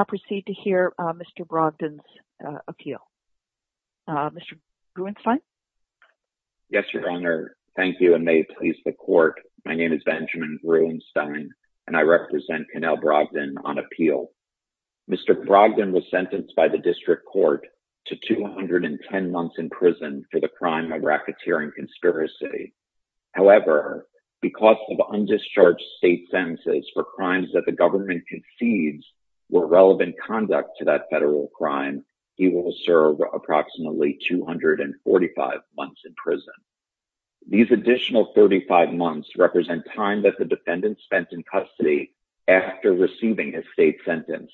Now proceed to hear Mr. Brogdon's appeal. Mr. Gruenstein? Yes, Your Honor. Thank you, and may it please the Court, my name is Benjamin Gruenstein, and I represent Canel Brogdon on appeal. Mr. Brogdon was sentenced by the District Court to 210 months in prison for the crime of racketeering conspiracy. However, because of undischarged state sentences for crimes that the government concedes were relevant conduct to that federal crime, he will serve approximately 245 months in prison. These additional 35 months represent time that the defendant spent in custody after receiving his state sentence,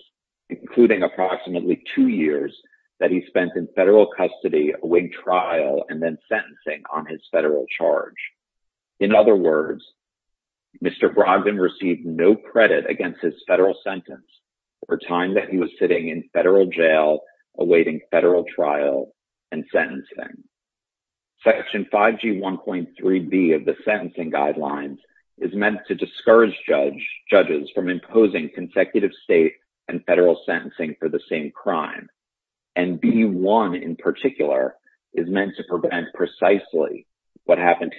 including approximately two years that he spent in federal custody awaiting trial and then sentencing on his Mr. Brogdon received no credit against his federal sentence for time that he was sitting in federal jail awaiting federal trial and sentencing. Section 5G 1.3b of the sentencing guidelines is meant to discourage judges from imposing consecutive state and federal sentencing for the same crime, and B1 in particular is meant to prevent precisely what happened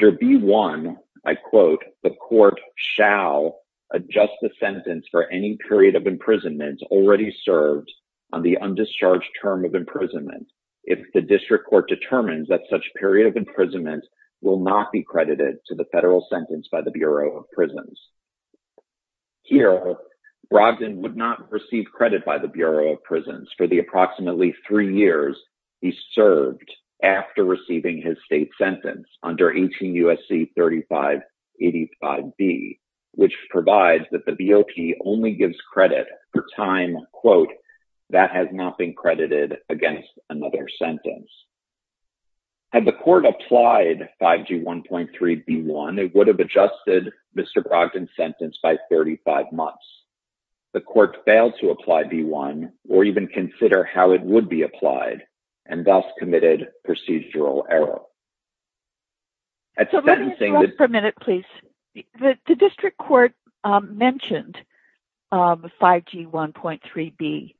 to B1, I quote, the court shall adjust the sentence for any period of imprisonment already served on the undischarged term of imprisonment if the District Court determines that such period of imprisonment will not be credited to the federal sentence by the Bureau of Prisons. Here Brogdon would not receive credit by the Bureau of Prisons for the approximately three years he served after receiving his state sentence under 18 U.S.C. 3585b, which provides that the BOP only gives credit for time, quote, that has not been credited against another sentence. Had the court applied 5G 1.3b1, it would have adjusted Mr. Brogdon's sentence by 35 months. The court failed to apply B1 or even consider how it would be applied and thus committed procedural error. So let me interrupt for a minute, please. The District Court mentioned 5G 1.3b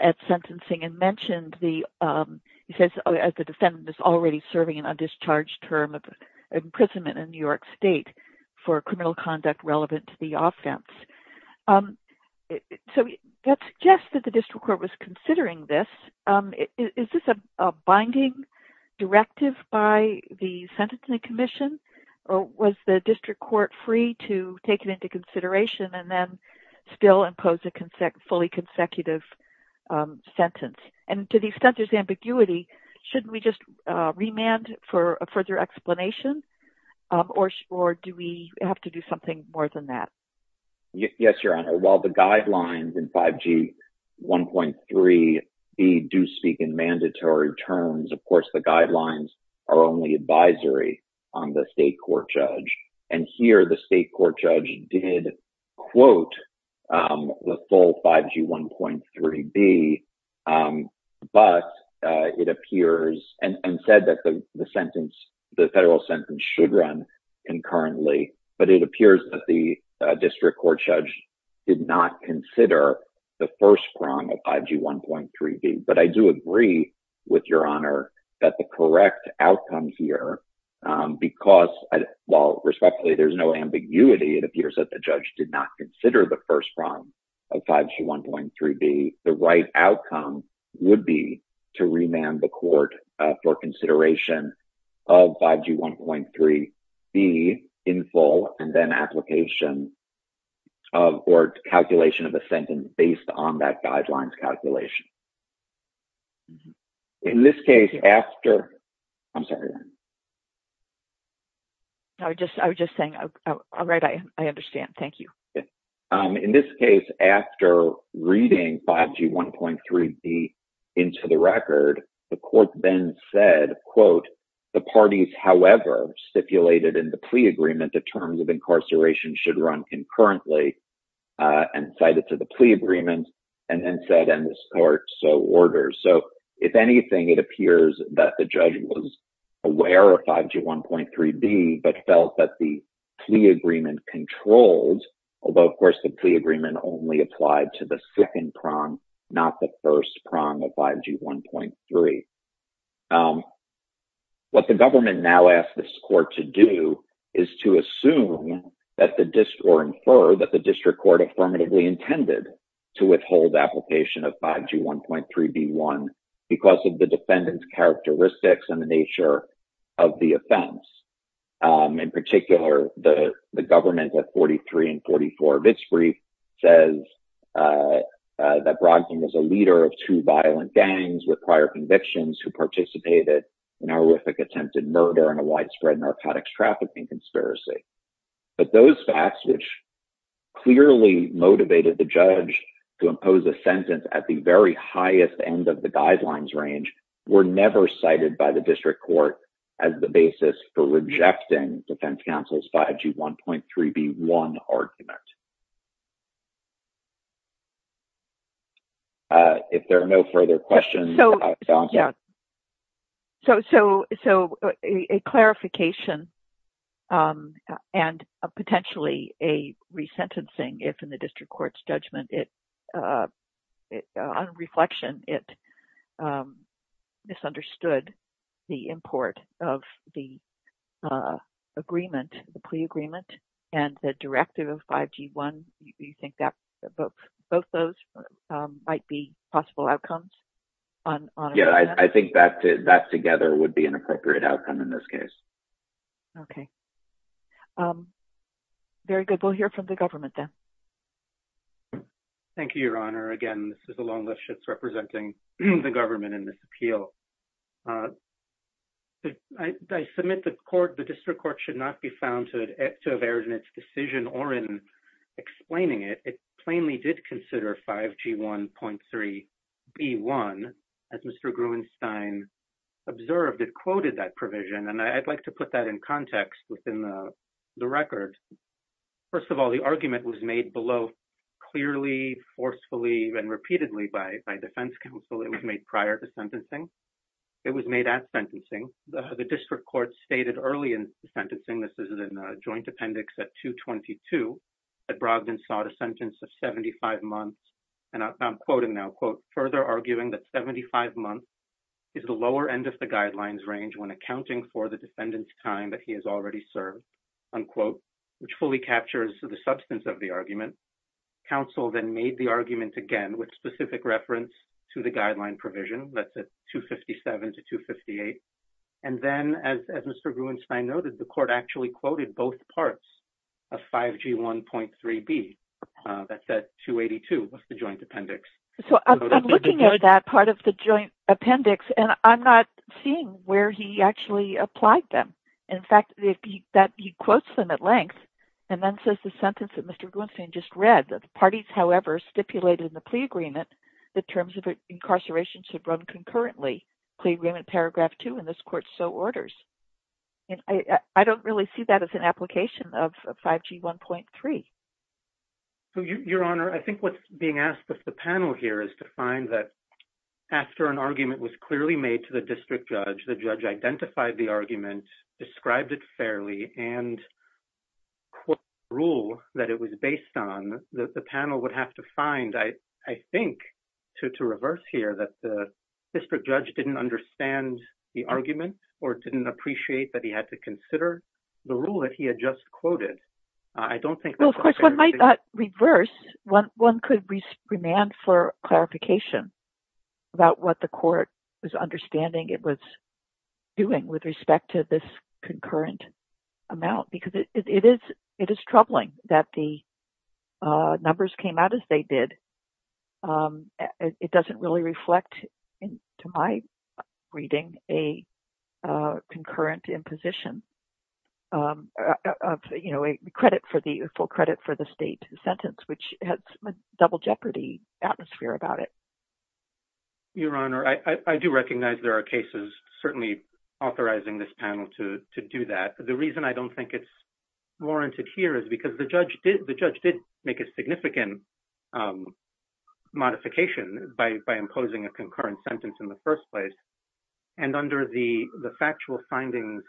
at sentencing and mentioned the, he says the defendant is already serving an undischarged term of imprisonment in New York State for criminal conduct relevant to the offense. So that suggests that the District Court was considering this. Is this a binding directive by the Sentencing Commission? Or was the District Court free to take it into consideration and then still impose a fully consecutive sentence? And to the extent there's ambiguity, shouldn't we just remand for a further explanation? Or do we have to do something more than that? Yes, Your Honor. While the guidelines in 5G 1.3b do speak in mandatory terms, of course, the guidelines are only advisory on the state court judge. And here the state court judge did quote the full 5G 1.3b, but it appears and said that the federal sentence should run concurrently. But it appears that the District Court judge did not consider the first prong of 5G 1.3b. But I do agree with Your Honor that the correct outcome here, because while respectfully there's no ambiguity, it appears that the judge did not consider the first prong of 5G 1.3b, the right outcome would be to remand the court for consideration of 5G 1.3b in full and then application of or calculation of a sentence based on that guidelines calculation. In this case, after, I'm sorry. I was just saying, all right, I understand. Thank you. In this case, after reading 5G 1.3b into the record, the court then said, quote, the parties, however, stipulated in the plea agreement, the terms of incarceration should run concurrently and cited to the plea agreement and then said, and this court so orders. So if anything, it appears that the judge was aware of 5G 1.3b, but felt that the plea agreement controlled, although of course the plea agreement only applied to the second prong, not the first prong of 5G 1.3. What the government now asks this court to do is to assume that the, or infer that the district court affirmatively intended to withhold application of 5G 1.3b1 because of the defendant's characteristics and the nature of the offense. In particular, the government at 43 and 44 of its brief says that Brogdon was a leader of two violent gangs with prior convictions who participated in horrific attempted murder and a widespread narcotics trafficking conspiracy. But those facts, which clearly motivated the judge to impose a sentence at the very highest end of the guidelines range were never cited by the district court as the basis for rejecting defense counsel's 5G 1.3b1 argument. If there are no further questions. Yeah. So a clarification and potentially a resentencing if in the district court's judgment, on reflection, it misunderstood the import of the agreement, the plea agreement, and the directive of 5G 1. Do you think that both those might be possible outcomes? Yeah, I think that together would be an appropriate outcome in this case. Okay. Very good. We'll hear from the government then. Thank you, Your Honor. Again, this is Alon Lipschitz representing the government in this appeal. I submit the court, the district court should not be found to have erred in its decision or in explaining it. It plainly did consider 5G 1.3b1. As Mr. Gruenstein observed, it quoted that provision and I'd like to put that in context within the record. First of all, the argument was made below clearly, forcefully, and repeatedly by defense counsel. It was made prior to sentencing. It was made at sentencing. The district court stated early in sentencing, this is in a joint appendix at 222, that Brogdon sought a sentence of 75 months. And I'm quoting now, quote, further arguing that 75 months is the lower end of the guidelines range when accounting for the defendant's time that he has already served, unquote, which fully captures the substance of the argument. Counsel then made the argument again with specific reference to the guideline provision that's at 257 to 258. And then as Mr. Gruenstein noted, the court actually quoted both parts of 5G 1.3b. That's at 282, that's the joint appendix. So I'm looking at that part of the joint appendix and I'm not seeing where he actually applied them. In fact, he quotes them at length and then says the sentence that Mr. Gruenstein just read that the parties, however, stipulated in the plea agreement, the terms of incarceration should run concurrently, plea agreement paragraph two, and this court so orders. And I don't really see that as an application of 5G 1.3. So your honor, I think what's being asked of the panel here is to find that after an argument was clearly made to the district judge, the judge identified the argument, described it fairly, and quote the rule that it was based on, that the panel would have to find, I think, to reverse here that the district judge didn't understand the argument or didn't appreciate that he had to consider the rule that he had just quoted. I don't think... Well, of course, one might not reverse. One could remand for clarification about what the court was understanding it was doing with respect to this concurrent amount, because it is troubling that the numbers came out as they did. It doesn't really reflect, to my reading, a concurrent imposition of credit for the full credit for the state sentence, which has a double jeopardy about it. Your honor, I do recognize there are cases certainly authorizing this panel to do that. The reason I don't think it's warranted here is because the judge did make a significant modification by imposing a concurrent sentence in the first place. And under the factual findings,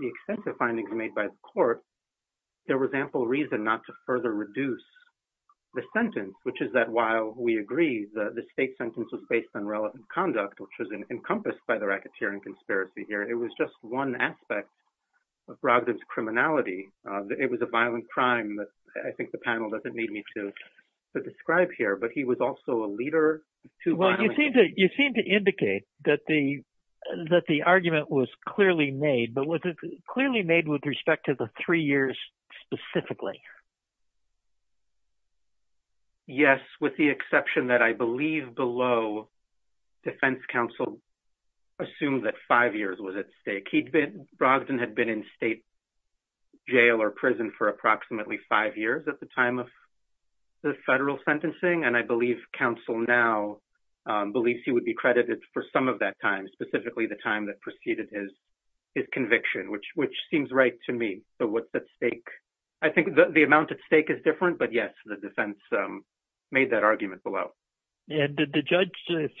the extensive findings made by the court, there was ample reason not to further reduce the sentence, which is that while we agree that the state sentence was based on relevant conduct, which was encompassed by the racketeering conspiracy here, it was just one aspect of Brogdon's criminality. It was a violent crime that I think the panel doesn't need me to describe here, but he was also a leader to... Well, you seem to indicate that the argument was clearly made, but was it clearly made with respect to the three years specifically? Yes, with the exception that I believe below, defense counsel assumed that five years was at stake. He'd been... Brogdon had been in state jail or prison for approximately five years at the time of the federal sentencing, and I believe counsel now believes he would be credited for some of that time, specifically the time that preceded his conviction, which seems right to me. So, yes, the defense made that argument below. And did the judge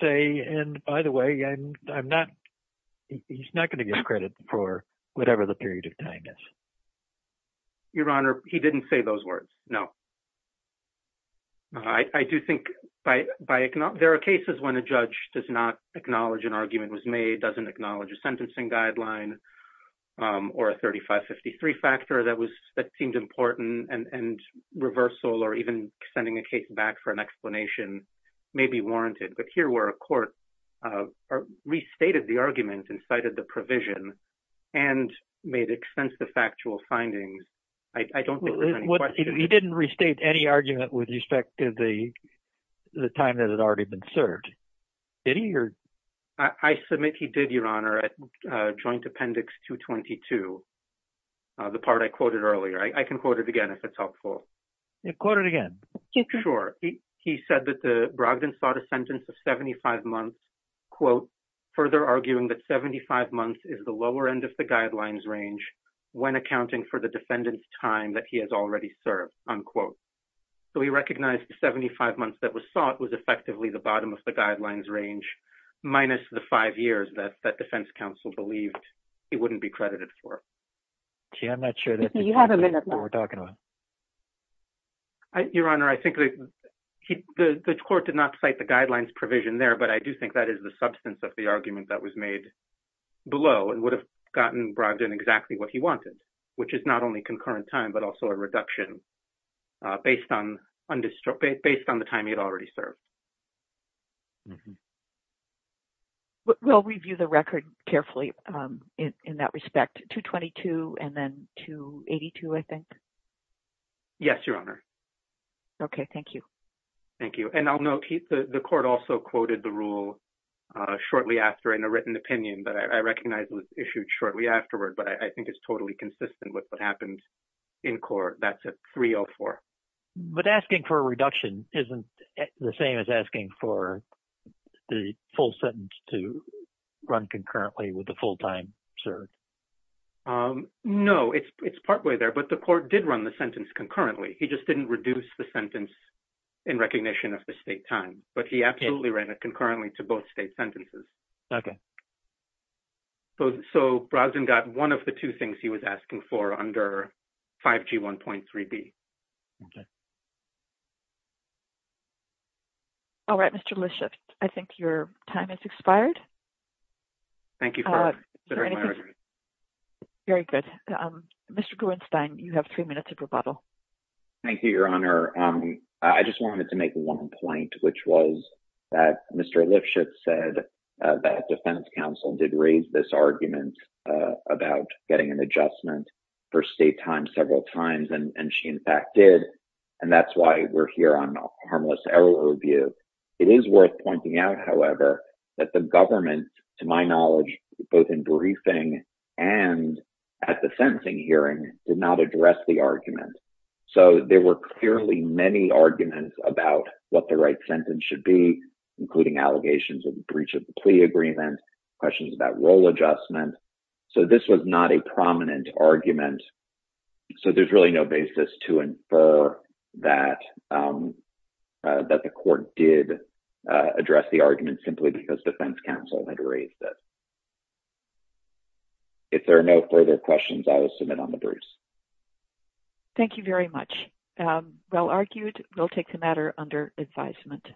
say, and by the way, I'm not... He's not going to get credit for whatever the period of time is. Your Honor, he didn't say those words, no. I do think by... There are cases when a judge does not acknowledge an argument was made, doesn't acknowledge a sentencing guideline or a 35-53 factor that seemed important and reversal or even sending a case back for an explanation may be warranted. But here where a court restated the argument and cited the provision and made extensive factual findings, I don't think there's any question... He didn't restate any argument with respect to the time that had already been served, did he? I submit he did, Your Honor, at Joint Appendix 222, the part I quoted earlier. I can quote it again if it's helpful. Quote it again. Sure. He said that the Brogdon sought a sentence of 75 months, quote, further arguing that 75 months is the lower end of the guidelines range when accounting for the defendant's time that he has already served, unquote. So he recognized the 75 months that was sought was effectively the bottom of the guidelines range minus the five years that defense counsel believed he wouldn't be credited for. Gee, I'm not sure that... You have a minute left. ...we're talking about. Your Honor, I think the court did not cite the guidelines provision there, but I do think that is the substance of the argument that was made below and would have gotten Brogdon exactly what he wanted, which is not only concurrent time, but also a reduction based on the time he had already served. We'll review the record carefully in that respect. 222 and then 282, I think? Yes, Your Honor. Okay. Thank you. Thank you. And I'll note the court also quoted the rule shortly after in a written opinion, but I recognize it was issued shortly afterward, but I think it's totally consistent with what happened in court. That's at 304. But asking for a reduction isn't the same as asking for the full sentence to run concurrently with the full-time serve. No, it's partway there, but the court did run the sentence concurrently. He just didn't reduce the sentence in recognition of the state time, but he absolutely ran it concurrently to both state sentences. Okay. So Brogdon got one of the two things he was asking for under 5G 1.3b. Okay. All right, Mr. Lifshitz, I think your time has expired. Thank you. Very good. Mr. Gruenstein, you have three minutes of rebuttal. Thank you, Your Honor. I just wanted to make one point, which was that Mr. Lifshitz said that defense counsel did raise this argument about getting an adjustment for state time several times, and she in fact did, and that's why we're here on harmless error review. It is worth pointing out, however, that the government, to my knowledge, both in briefing and at the sentencing hearing, did not address the argument. So there were clearly many arguments about what the right sentence should be, including allegations of breach of the plea agreement, questions about role adjustment. So this was not a prominent argument. So there's really no basis to infer that the court did address the argument simply because defense counsel had raised it. If there are no further questions, I will submit on the Bruce. Thank you very much. Well argued. We'll take the matter under advisement.